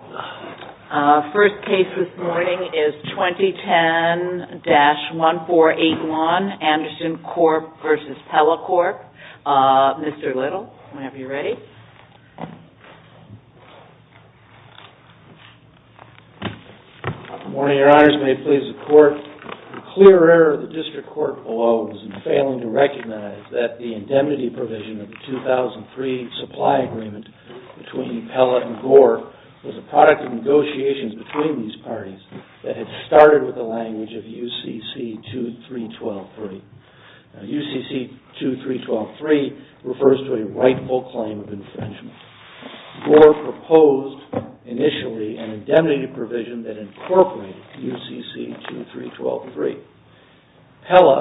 The first case this morning is 2010-1481, Andersen Corp v. Pella Corp. Mr. Little, may I have you ready? Good morning, Your Honors. May it please the Court, The clear error of the District Court below was in failing to recognize that the indemnity provision of the 2003 Supply Agreement between Pella and Gore was a product of negotiations between these parties that had started with the language of UCC-2312-3. UCC-2312-3 refers to a rightful claim of infringement. Gore proposed, initially, an indemnity provision that incorporated UCC-2312-3. Pella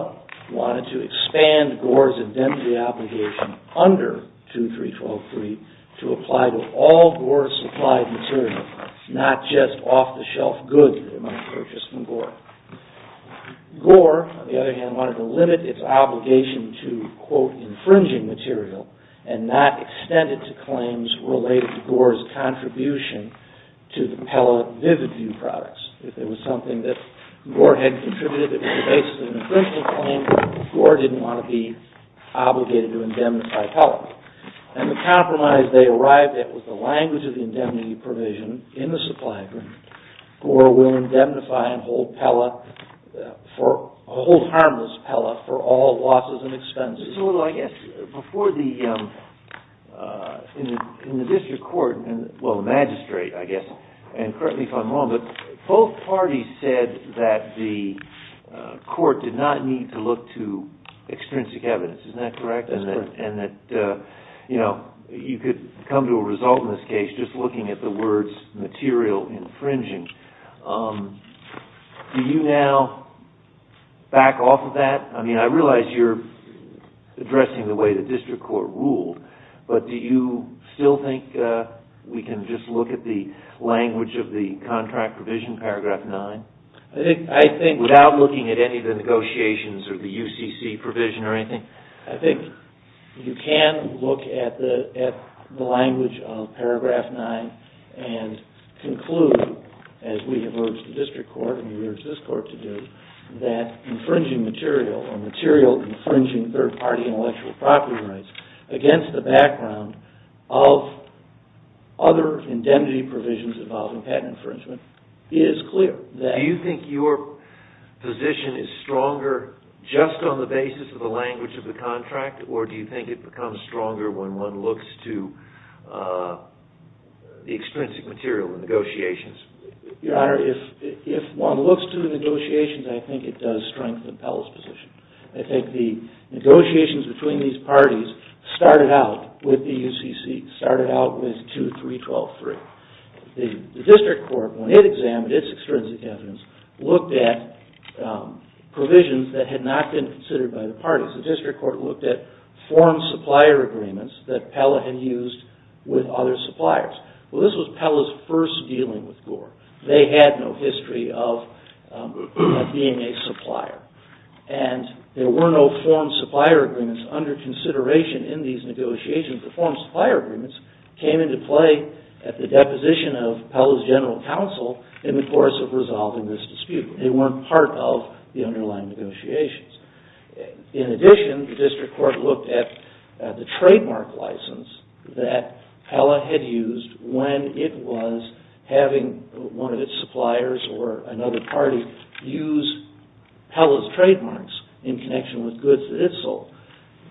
wanted to expand Gore's indemnity obligation under UCC-2312-3 to apply to all Gore-supplied material, not just off-the-shelf goods that it might purchase from Gore. Gore, on the other hand, wanted to limit its obligation to, quote, infringing material, and not extend it to claims related to Gore's contribution to the Pella vivid view products. If it was something that Gore had contributed, it was the basis of an infringement claim, Gore didn't want to be obligated to indemnify Pella. And the compromise they arrived at was the language of the indemnity provision in the Supply Agreement. Gore will indemnify and hold Pella for, hold harmless Pella for all losses and expenses. Mr. Little, I guess, before the, in the District Court, well, Magistrate, I guess, and currently if I'm wrong, but both parties said that the court did not need to look to extrinsic evidence, isn't that correct? That's correct. And that, you know, you could come to a result in this case just looking at the words material infringing. Do you now back off of that? I mean, I realize you're addressing the way the District Court ruled, but do you still think we can just look at the language of the contract provision, Paragraph 9? I think, I think... Without looking at any of the negotiations or the UCC provision or anything? I think you can look at the, at the language of Paragraph 9 and conclude, as we have urged the District Court and we've urged this court to do, that infringing material, or material infringing third-party intellectual property rights, against the background of other indemnity provisions involving patent infringement, is clear. Do you think your position is stronger just on the basis of the language of the contract, or do you think it becomes stronger when one looks to the extrinsic material in negotiations? Your Honor, if one looks to the negotiations, I think it does strengthen Pella's position. I think the negotiations between these parties started out with the UCC, started out with 2312.3. The District Court, when it examined its extrinsic evidence, looked at provisions that had not been considered by the parties. The District Court looked at foreign supplier agreements that Pella had used with other suppliers. Well, this was Pella's first dealing with Gore. They had no history of being a supplier. And there were no foreign supplier agreements under consideration in these negotiations. The foreign supplier agreements came into play at the deposition of Pella's general counsel in the course of resolving this dispute. They weren't part of the underlying negotiations. In addition, the District Court looked at the trademark license that Pella had used when it was having one of its suppliers or another party use Pella's trademarks in connection with goods that it sold.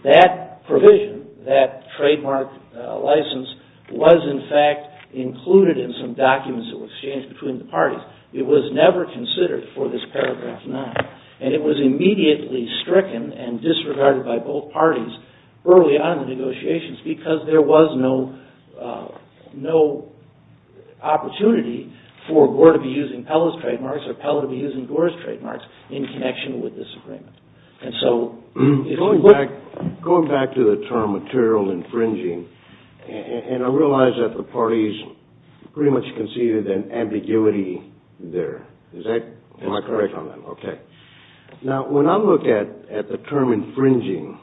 That provision, that trademark license, was in fact included in some documents that were exchanged between the parties. It was never considered for this paragraph 9. And it was immediately stricken and disregarded by both parties early on in the negotiations because there was no opportunity for Gore to be using Pella's trademarks or Pella to be using Gore's trademarks in connection with this agreement. Going back to the term material infringing, and I realize that the parties pretty much conceded an ambiguity there. Am I correct on that? Okay. Now, when I look at the term infringing,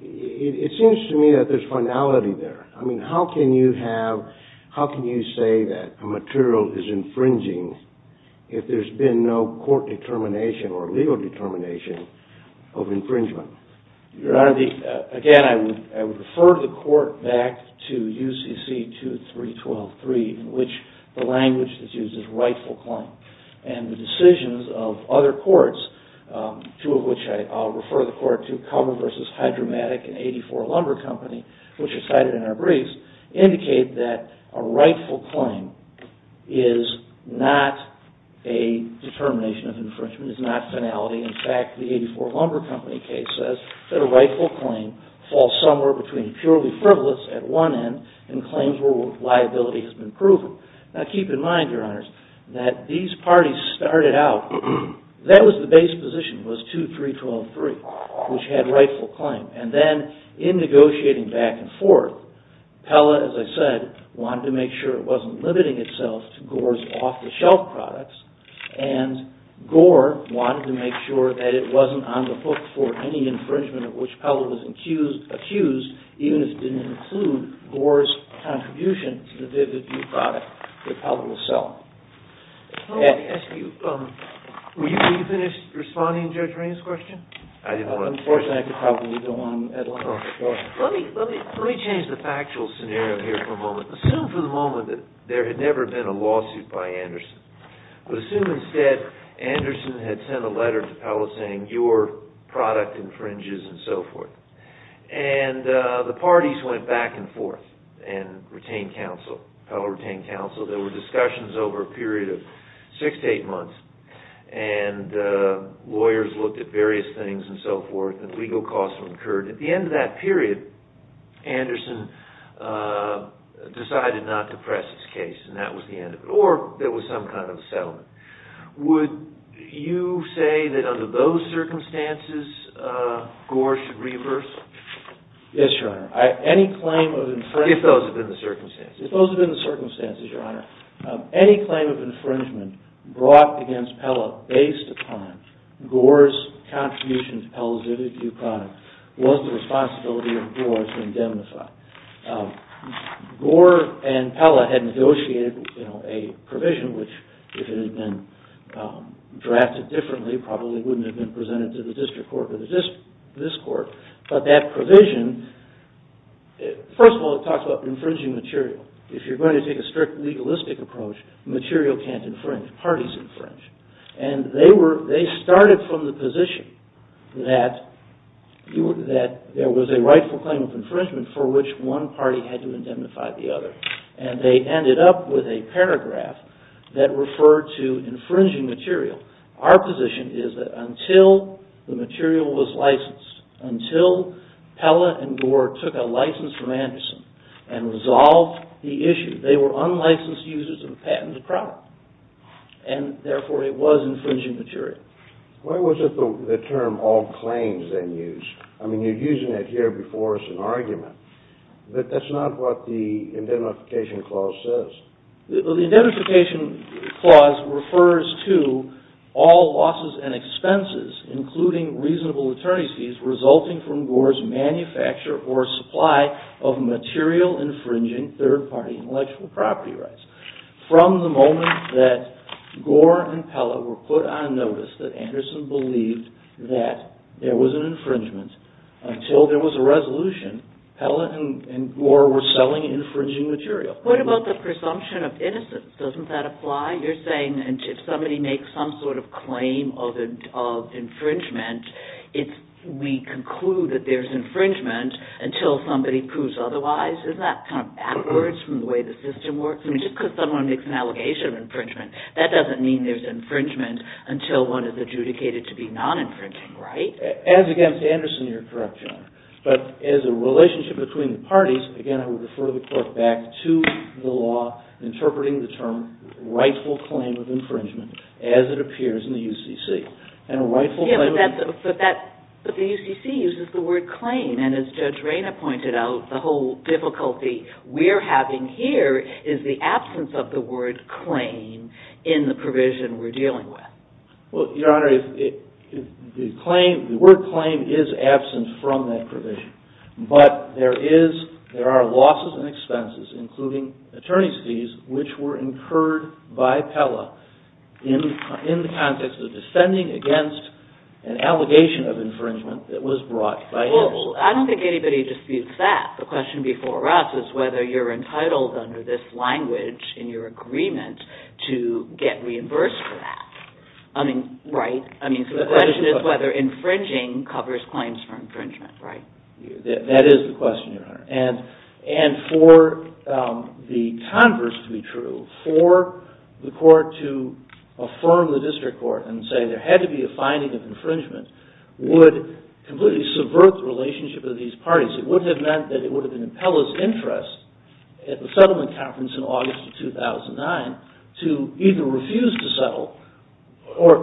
it seems to me that there's finality there. I mean, how can you say that a material is infringing if there's been no court determination or legal determination of infringement? Your Honor, again, I would refer the court back to UCC 2312.3, in which the language that's used is rightful claim. And the decisions of other courts, two of which I'll refer the court to, Cummer v. Hydromatic and 84 Lumber Company, which are cited in our briefs, indicate that a rightful claim is not a determination of infringement. It's not finality. In fact, the 84 Lumber Company case says that a rightful claim falls somewhere between purely frivolous at one end and claims where liability has been proven. Now, keep in mind, Your Honors, that these parties started out, that was the base position, was 2312.3, which had rightful claim. And then in negotiating back and forth, Pella, as I said, wanted to make sure it wasn't limiting itself to Gore's off-the-shelf products, and Gore wanted to make sure that it wasn't on the hook for any infringement of which Pella was accused, even if it didn't include Gore's contribution to the vivid new product that Pella will sell. Let me ask you, were you finished responding to Judge Raines' question? Unfortunately, I could probably go on and on. Let me change the factual scenario here for a moment. Assume for the moment that there had never been a lawsuit by Anderson. But assume instead Anderson had sent a letter to Pella saying, Your product infringes, and so forth. And the parties went back and forth and retained counsel. Pella retained counsel. There were discussions over a period of six to eight months, and lawyers looked at various things and so forth, and legal costs were incurred. At the end of that period, Anderson decided not to press his case, and that was the end of it, or there was some kind of settlement. Would you say that under those circumstances, Gore should reimburse? Yes, Your Honor. If those had been the circumstances. If those had been the circumstances, Your Honor. Any claim of infringement brought against Pella based upon Gore's contribution to Pella's vivid new product was the responsibility of Gore to indemnify. Gore and Pella had negotiated a provision which, if it had been drafted differently, probably wouldn't have been presented to the district court or this court. But that provision, first of all, it talks about infringing material. If you're going to take a strict legalistic approach, material can't infringe. Parties infringe. And they started from the position that there was a rightful claim of infringement for which one party had to indemnify the other. And they ended up with a paragraph that referred to infringing material. Our position is that until the material was licensed, until Pella and Gore took a license from Anderson and resolved the issue, they were unlicensed users of a patented product, and therefore it was infringing material. Why was the term all claims then used? I mean, you're using it here before as an argument. That's not what the Indemnification Clause says. The Indemnification Clause refers to all losses and expenses, including reasonable attorney's fees, resulting from Gore's manufacture or supply of material infringing third-party intellectual property rights. From the moment that Gore and Pella were put on notice that Anderson believed that there was an infringement until there was a resolution, Pella and Gore were selling infringing material. What about the presumption of innocence? Doesn't that apply? You're saying if somebody makes some sort of claim of infringement, we conclude that there's infringement until somebody proves otherwise? Isn't that kind of backwards from the way the system works? I mean, just because someone makes an allegation of infringement, that doesn't mean there's infringement until one is adjudicated to be non-infringing, right? As against Anderson, you're correct, Your Honor. But as a relationship between the parties, again, I would refer the court back to the law interpreting the term rightful claim of infringement as it appears in the UCC. But the UCC uses the word claim, and as Judge Rayna pointed out, the whole difficulty we're having here is the absence of the word claim in the provision we're dealing with. Well, Your Honor, the word claim is absent from that provision. But there are losses and expenses, including attorney's fees, which were incurred by Pella in the context of defending against an allegation of infringement that was brought by him. Well, I don't think anybody disputes that. The question before us is whether you're entitled under this language in your agreement to get reimbursed for that. I mean, right? I mean, so the question is whether infringing covers claims for infringement, right? That is the question, Your Honor. And for the converse to be true, for the court to affirm the district court and say there had to be a finding of infringement would completely subvert the relationship of these parties. It would have meant that it would have been Pella's interest at the settlement conference in August of 2009 to either refuse to settle or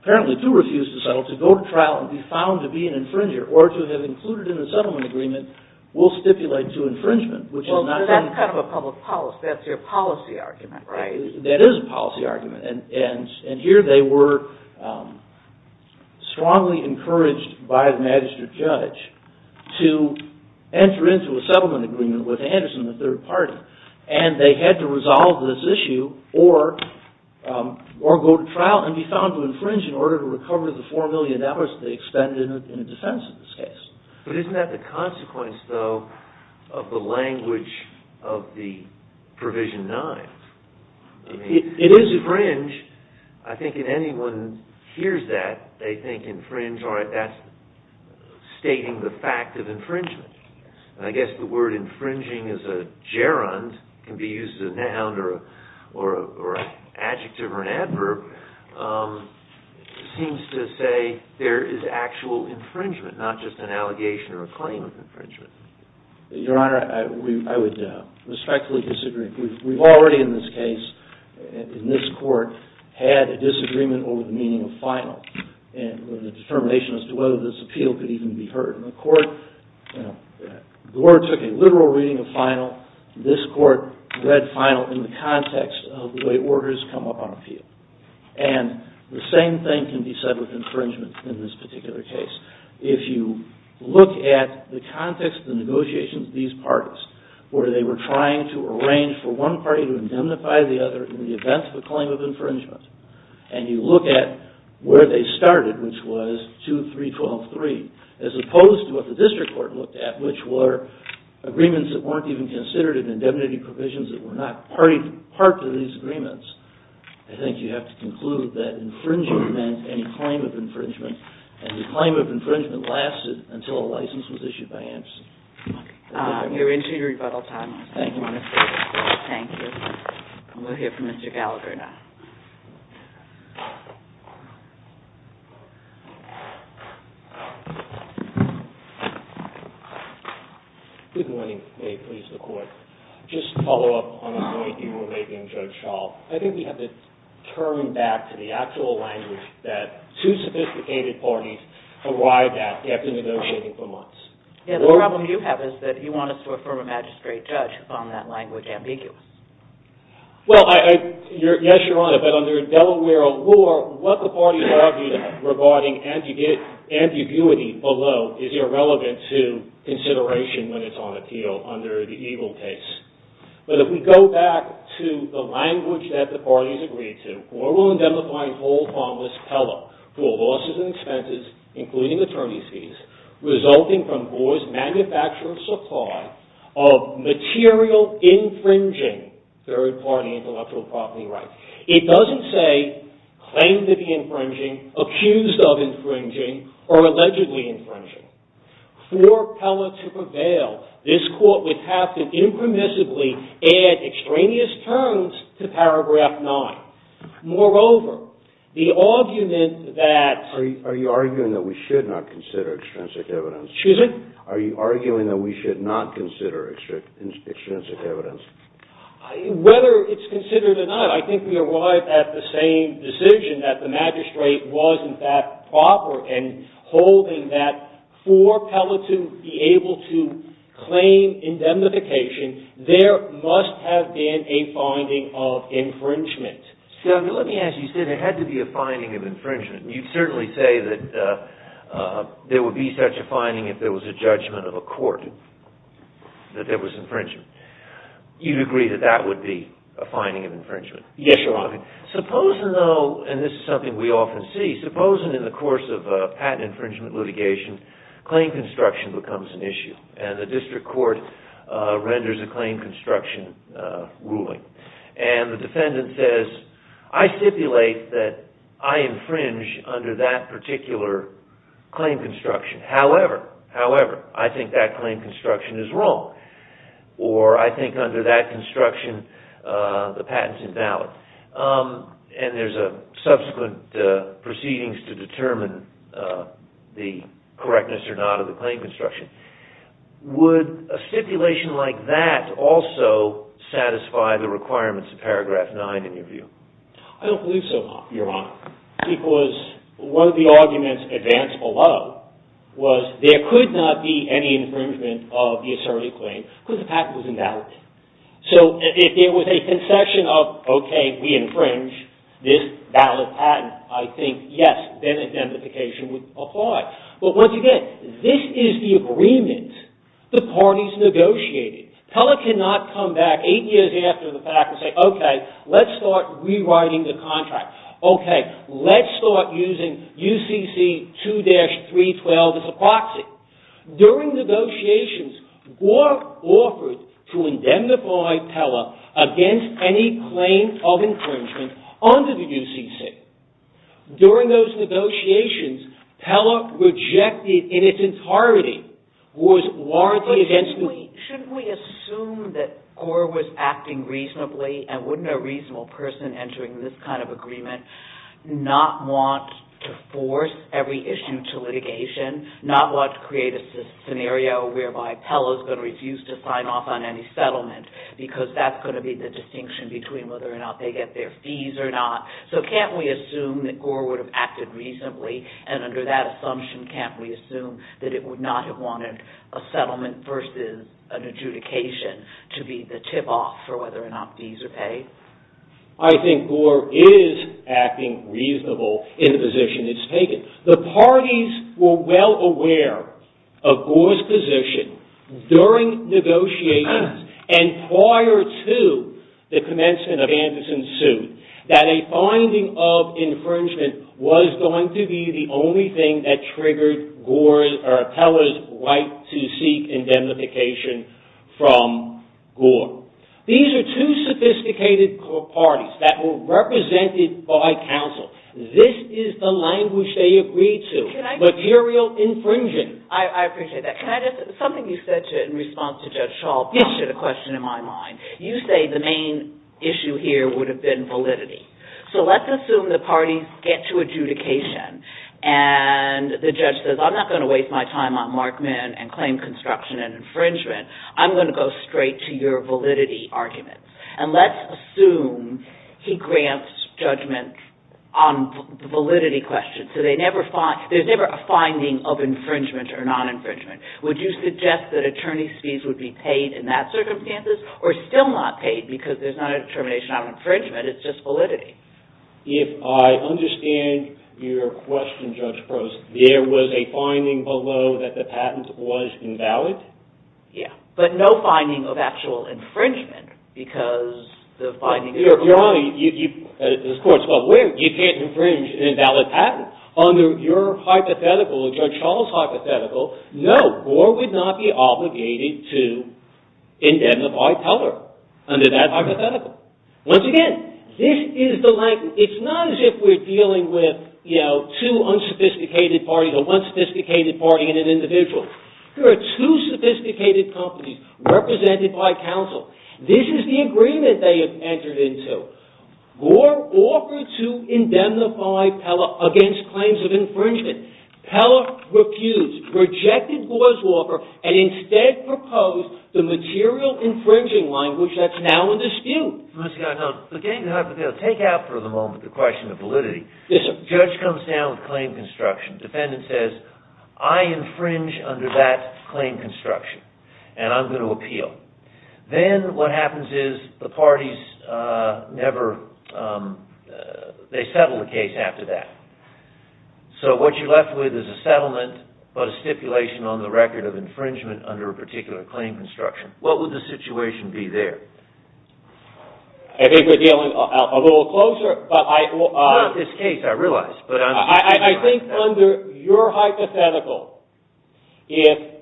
apparently to refuse to settle to go to trial and be found to be an infringer or to have included in the settlement agreement will stipulate to infringement, which is not going to happen. Well, that's kind of a public policy. That's your policy argument, right? That is a policy argument, and here they were strongly encouraged by the magistrate judge to enter into a settlement agreement with Anderson, the third party, and they had to resolve this issue or go to trial and be found to infringe in order to recover the $4 million they expended in a defense in this case. But isn't that the consequence, though, of the language of the Provision 9? I mean, it is infringe. I think if anyone hears that, they think infringe, all right, that's stating the fact of infringement. And I guess the word infringing as a gerund can be used as a noun or an adjective or an adverb seems to say there is actual infringement, not just an allegation or a claim of infringement. Your Honor, I would respectfully disagree. We've already in this case, in this court, had a disagreement over the meaning of final and the determination as to whether this appeal could even be heard. In the court, the Lord took a literal reading of final. This court read final in the context of the way orders come up on appeal. And the same thing can be said with infringement in this particular case. If you look at the context of the negotiations of these parties, where they were trying to arrange for one party to indemnify the other in the event of a claim of infringement, and you look at where they started, which was 2, 3, 12, 3, as opposed to what the district court looked at, which were agreements that weren't even considered in indemnity provisions that were not part of these agreements, I think you have to conclude that infringement meant any claim of infringement, and the claim of infringement lasted until a license was issued by amnesty. Okay. We're into your rebuttal time. Thank you, Your Honor. Thank you. We'll hear from Mr. Gallagher now. Good morning. May it please the Court. Just to follow up on a point you were making, Judge Schall, I think we have to turn back to the actual language that two sophisticated parties arrived at after negotiating for months. Yeah, the problem you have is that you want us to affirm a magistrate judge on that language, ambiguous. Well, yes, Your Honor, but under Delaware law, what the parties argued regarding ambiguity below is irrelevant to consideration when it's on appeal under the EGLE case. But if we go back to the language that the parties agreed to, court will indemnify whole harmless Peller for losses and expenses, including attorney's fees, resulting from Boar's manufacturer's supply of material infringing third-party intellectual property rights. It doesn't say claim to be infringing, accused of infringing, or allegedly infringing. For Peller to prevail, this Court would have to impermissibly add extraneous terms to paragraph 9. Moreover, the argument that... Are you arguing that we should not consider extrinsic evidence? Excuse me? Are you arguing that we should not consider extrinsic evidence? Whether it's considered or not, I think we arrived at the same decision that the magistrate was in fact proper and holding that for Peller to be able to claim indemnification, there must have been a finding of infringement. Let me ask you, you said there had to be a finding of infringement. You certainly say that there would be such a finding if there was a judgment of a court, that there was infringement. You'd agree that that would be a finding of infringement? Yes, Your Honor. Supposing, though, and this is something we often see, supposing in the course of a patent infringement litigation, claim construction becomes an issue, and the District Court renders a claim construction ruling. And the defendant says, I stipulate that I infringe under that particular claim construction. However, I think that claim construction is wrong, or I think under that construction the patent is invalid. And there's subsequent proceedings to determine the correctness or not of the claim construction. Would a stipulation like that also satisfy the requirements of paragraph 9 in your view? I don't believe so, Your Honor. Because one of the arguments advanced below was there could not be any infringement of the asserted claim because the patent was invalid. So, if there was a concession of, okay, we infringe this valid patent, I think, yes, then identification would apply. But once again, this is the agreement the parties negotiated. Keller cannot come back eight years after the fact and say, okay, let's start rewriting the contract. Okay, let's start using UCC 2-312 as a proxy. During negotiations, Gore offered to indemnify Peller against any claim of infringement under the UCC. During those negotiations, Peller rejected in its entirety Gore's warranty against... Shouldn't we assume that Gore was acting reasonably and wouldn't a reasonable person entering this kind of agreement not want to force every issue to litigation, not want to create a scenario whereby Peller's going to refuse to sign off on any settlement because that's going to be the distinction between whether or not they get their fees or not. So, can't we assume that Gore would have acted reasonably and under that assumption, can't we assume that it would not have wanted a settlement versus an adjudication to be the tip-off for whether or not fees are paid? I think Gore is acting reasonable in the position it's taken. The parties were well aware of Gore's position during negotiations and prior to the commencement of Anderson's suit that a finding of infringement was going to be the only thing that triggered Peller's right to seek indemnification from Gore. These are two sophisticated parties that were represented by counsel. This is the language they agreed to. Material infringement. I appreciate that. Something you said in response to Judge Schall prompted a question in my mind. You say the main issue here would have been validity. So, let's assume the parties get to adjudication and the judge says, I'm not going to waste my time on Markman and claim construction and infringement. I'm going to go straight to your validity argument. And let's assume he grants judgment on the validity question. There's never a finding of infringement or non-infringement. Would you suggest that attorney's fees would be paid in that circumstances or still not paid because there's not a determination on infringement, it's just validity? If I understand your question, Judge Probst, there was a finding below that the patent was invalid? Yeah, but no finding of actual infringement because the finding... Your Honor, the court's well aware you can't infringe an invalid patent. Under your hypothetical, Judge Schall's hypothetical, no, Gore would not be obligated to indemnify Teller under that hypothetical. Once again, this is the language... It's not as if we're dealing with, you know, two unsophisticated parties or one sophisticated party and an individual. There are two sophisticated companies represented by counsel. This is the agreement they have entered into. Gore offered to indemnify Teller against claims of infringement. Teller refused, rejected Gore's offer and instead proposed the material infringing language that's now in dispute. Mr. Gardner, look, take out for the moment the question of validity. The judge comes down with claim construction. The defendant says, I infringe under that claim construction and I'm going to appeal. Then what happens is the parties never... They settle the case after that. So what you're left with is a settlement but a stipulation on the record of infringement under a particular claim construction. What would the situation be there? I think we're dealing a little closer, but I... Not this case, I realize, but... I think under your hypothetical, if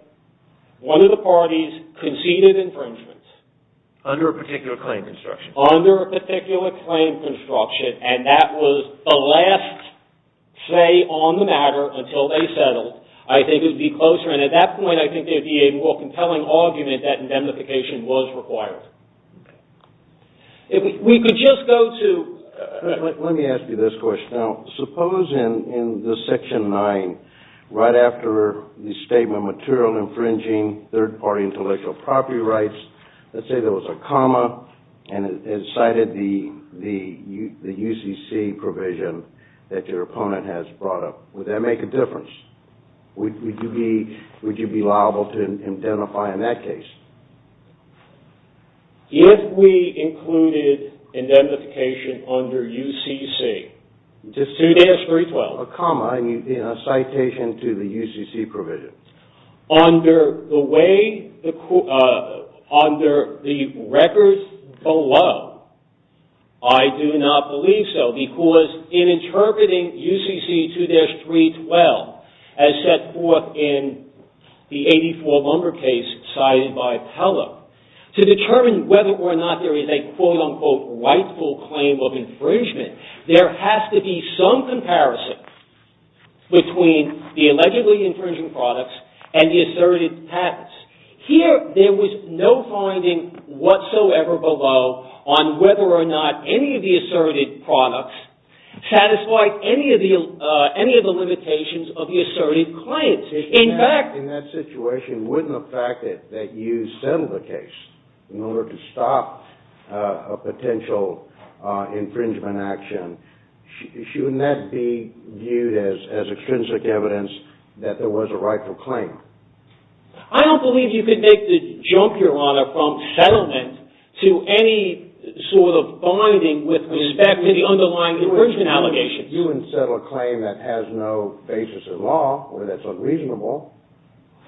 one of the parties conceded infringement... Under a particular claim construction. Under a particular claim construction and that was the last say on the matter until they settled, I think it would be closer. At that point, I think there would be a more compelling argument that indemnification was required. We could just go to... Let me ask you this question. Suppose in Section 9, right after the statement material infringing third-party intellectual property rights, let's say there was a comma and it cited the UCC provision that your opponent has brought up. Would that make a difference? Would you be liable to indemnify in that case? If we included indemnification under UCC, 2-312. A comma in a citation to the UCC provision. Under the way... Under the records below, I do not believe so, because in interpreting UCC 2-312 as set forth in the 84 lumber case cited by Pella, to determine whether or not there is a quote-unquote rightful claim of infringement, there has to be some comparison between the allegedly infringing products and the asserted patents. Here, there was no finding whatsoever below on whether or not any of the asserted products satisfied any of the limitations of the asserted claims. In fact... In that situation, wouldn't the fact that you settled the case in order to stop a potential infringement action, shouldn't that be viewed as extrinsic evidence that there was a rightful claim? I don't believe you could make the jump, Your Honor, from settlement to any sort of binding with respect to the underlying infringement allegations. You wouldn't settle a claim that has no basis in law where that's unreasonable.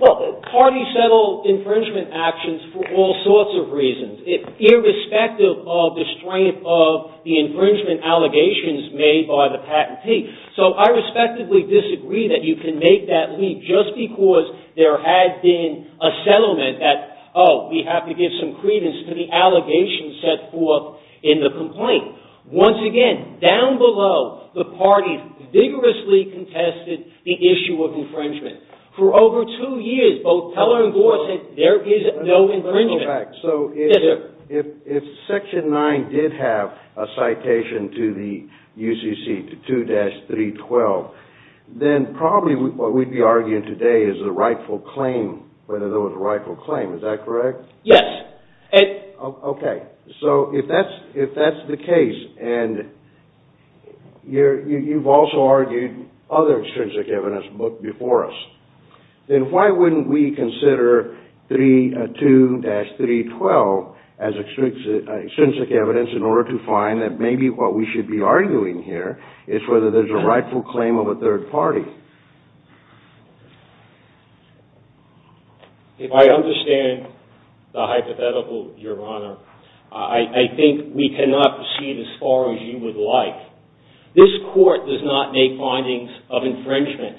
Well, parties settle infringement actions for all sorts of reasons, irrespective of the strength of the infringement allegations made by the patentee. So, I respectfully disagree that you can make that leap just because there had been a settlement that, oh, we have to give some credence to the allegations set forth in the complaint. Once again, down below, the parties vigorously contested the issue of infringement. For over two years, there is no infringement. So, if Section 9 did have a citation to the UCC, to 2-312, then probably what we'd be arguing today is a rightful claim, whether there was a rightful claim. Is that correct? Yes. Okay. So, if that's the case, and you've also argued other extrinsic evidence before us, then why wouldn't we consider 3-2-312 as extrinsic evidence in order to find that maybe what we should be arguing here is whether there's a rightful claim of a third party? If I understand the hypothetical, Your Honor, I think we cannot proceed as far as you would like. This Court does not make findings of infringement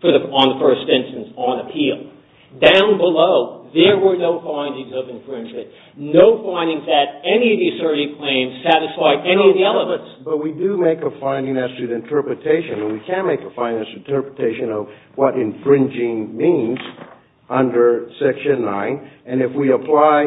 on the first instance, on appeal. Down below, there were no findings of infringement, no findings that any of these 30 claims satisfy any of the elements. But we do make a finding as to the interpretation, and we can make a finding as to the interpretation of what infringing means under Section 9, and if we apply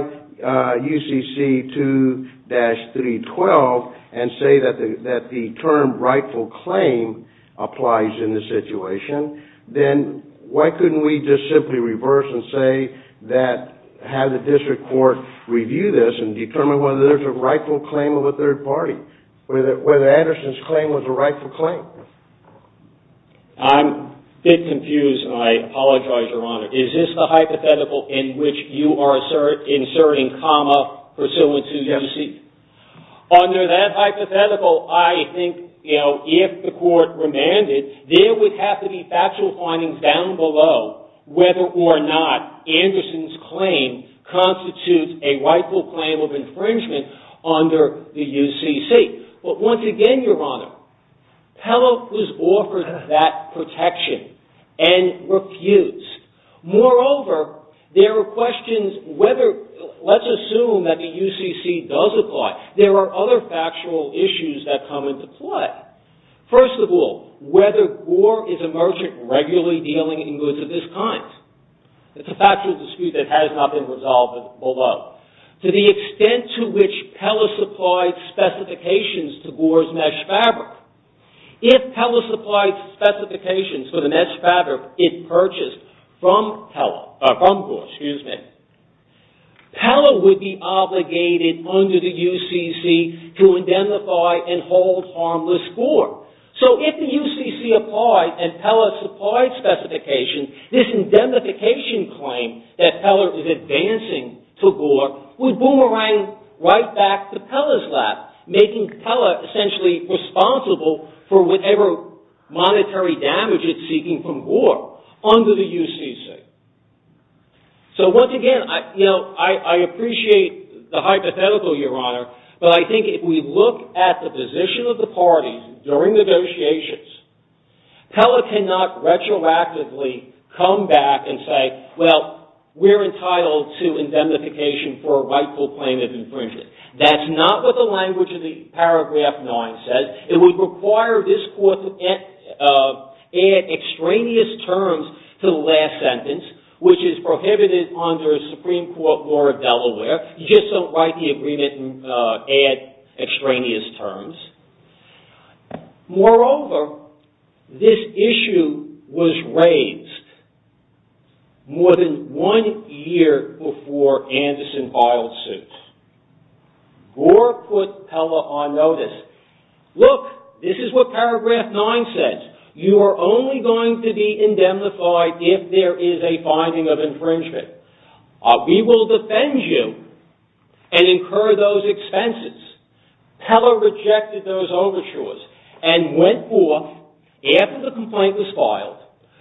UCC 2-312 and say that the term rightful claim applies in this situation, then why couldn't we just simply reverse and say that, have the District Court review this and determine whether there's a rightful claim of a third party, whether Anderson's claim was a rightful claim? I'm a bit confused, and I apologize, Your Honor. Is this the hypothetical in which you are inserting comma pursuant to UCC? Yes. Under that hypothetical, I think, you know, if the Court remanded, there would have to be factual findings down below whether or not Anderson's claim constitutes a rightful claim of infringement under the UCC. But once again, Your Honor, Pellock was offered that protection and refused. Moreover, there are questions whether, let's assume that the UCC does apply. There are other factual issues that come into play. First of all, whether Gore is a merchant regularly dealing in goods of this kind. It's a factual dispute that has not been resolved below. To the extent to which Pella supplied specifications to Gore's mesh fabric, if Pella supplied specifications for the mesh fabric it purchased from Gore, Pella would be obligated under the UCC to identify and hold harmless Gore. So if the UCC applied and Pella supplied specifications, this indemnification claim that Pella is advancing to Gore would boomerang right back to Pella's lap making Pella essentially responsible for whatever monetary damage it's seeking from Gore under the UCC. So once again, you know, I appreciate the hypothetical, Your Honor, but I think if we look at the position of the parties during negotiations, Pella cannot retroactively come back and say, well, we're entitled to indemnification for a rightful claim of infringement. That's not what the language of the paragraph 9 says. It would require this Court to add extraneous terms to the last sentence, law of Delaware. You just don't write the agreement and add extraneous terms. Moreover, this issue was raised more than one year before Anderson filed suit. Gore put Pella on notice. Look, this is what paragraph 9 says. You are only going to be indemnified if there is a finding of infringement. We will defend you and incur those expenses. Pella rejected those overtures and went forth after the complaint was filed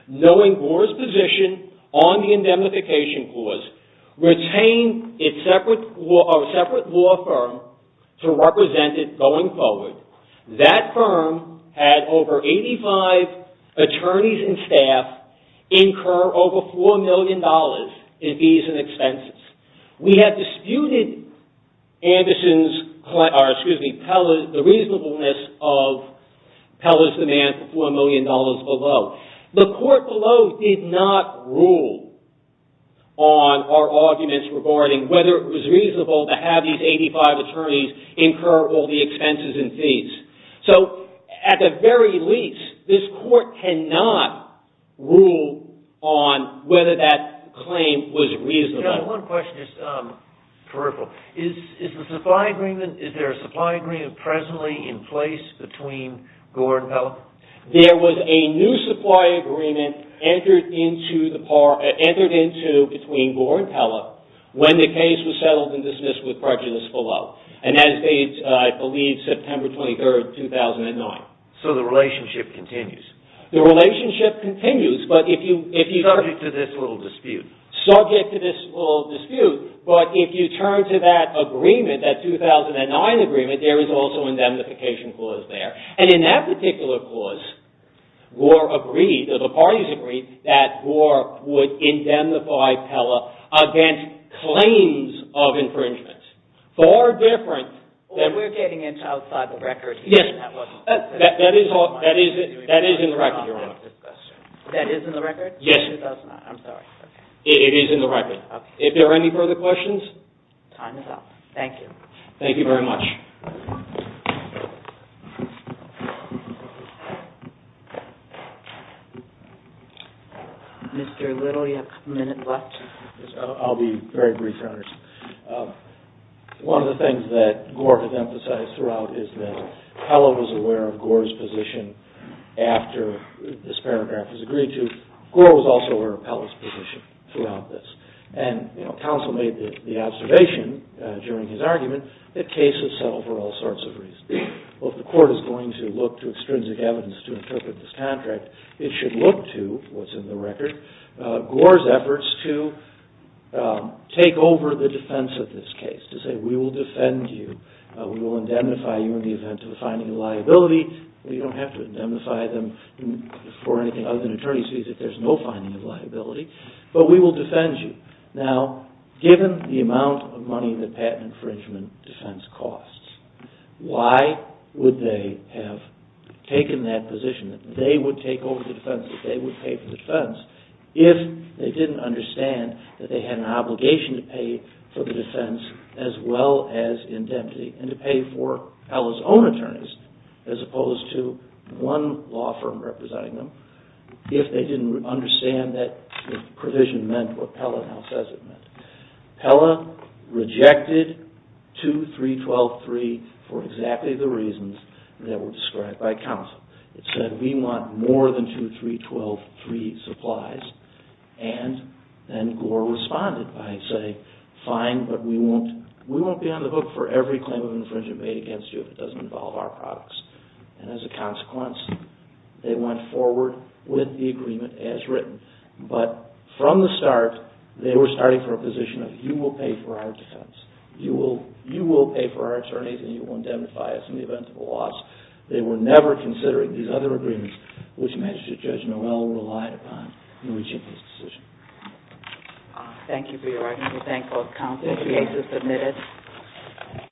knowing Gore's position on the indemnification clause retained a separate law firm to represent it going forward. That firm had over 85 attorneys and staff incur over $4 million in fees and expenses. We had disputed the reasonableness of Pella's demand for $4 million below. The Court below did not rule on our arguments regarding whether it was reasonable to have these 85 attorneys incur all the expenses and fees. At the very least, this Court cannot rule on whether that claim was reasonable. Is there a supply agreement presently in place between Gore and Pella? There was a new supply agreement entered into between Gore and Pella when the case was settled and dismissed with prejudice below. I believe it was September 23, 2009. So the relationship continues? Subject to this little dispute. Subject to this little dispute. If you turn to that 2009 agreement, there is also an indemnification clause there. In that particular clause, the parties agreed that Gore would indemnify Pella against claims of infringement. We're getting into outside the record. That is in the record, Your Honor. That is in the record? It is in the record. If there are any further questions? Thank you. Mr. Little, you have a couple minutes left. I'll be very brief, Your Honor. One of the things that Gore has emphasized throughout is that Pella was aware of Gore's position after this paragraph was agreed to. Gore was also aware of Pella's position throughout this. And counsel made the observation during his argument that cases settle for all sorts of reasons. Well, if the court is going to look to extrinsic evidence to interpret this contract, it should look to, what's in the record, Gore's efforts to take over the defense of this case. To say, we will defend you. We will indemnify you in the event of a finding of liability. You don't have to indemnify them for anything other than attorney's fees if there's no finding of liability. But we will defend you. Now, given the amount of money that patent infringement defense costs, why would they have taken that position? They would take over the defense if they would pay for the defense if they didn't understand that they had an obligation to pay for the defense as well as indemnity and to pay for Pella's own attorneys as opposed to one law firm representing them if they didn't understand that the provision meant what Pella now says it meant. Pella rejected 2312.3 for exactly the reasons that were described by counsel. It said we want more than 2312.3 supplies and then Gore responded by saying fine, but we won't be on the hook for every claim of infringement made against you if it doesn't involve our products. And as a consequence, they went forward with the agreement as written. But from the start, they were starting for a position of you will pay for our defense. You will pay for our attorneys and you will indemnify us in the event of a loss. They were never considering these other agreements which Magistrate Judge Noel relied upon in reaching this decision. Thank you for your argument. We thank both counsel. The case is submitted.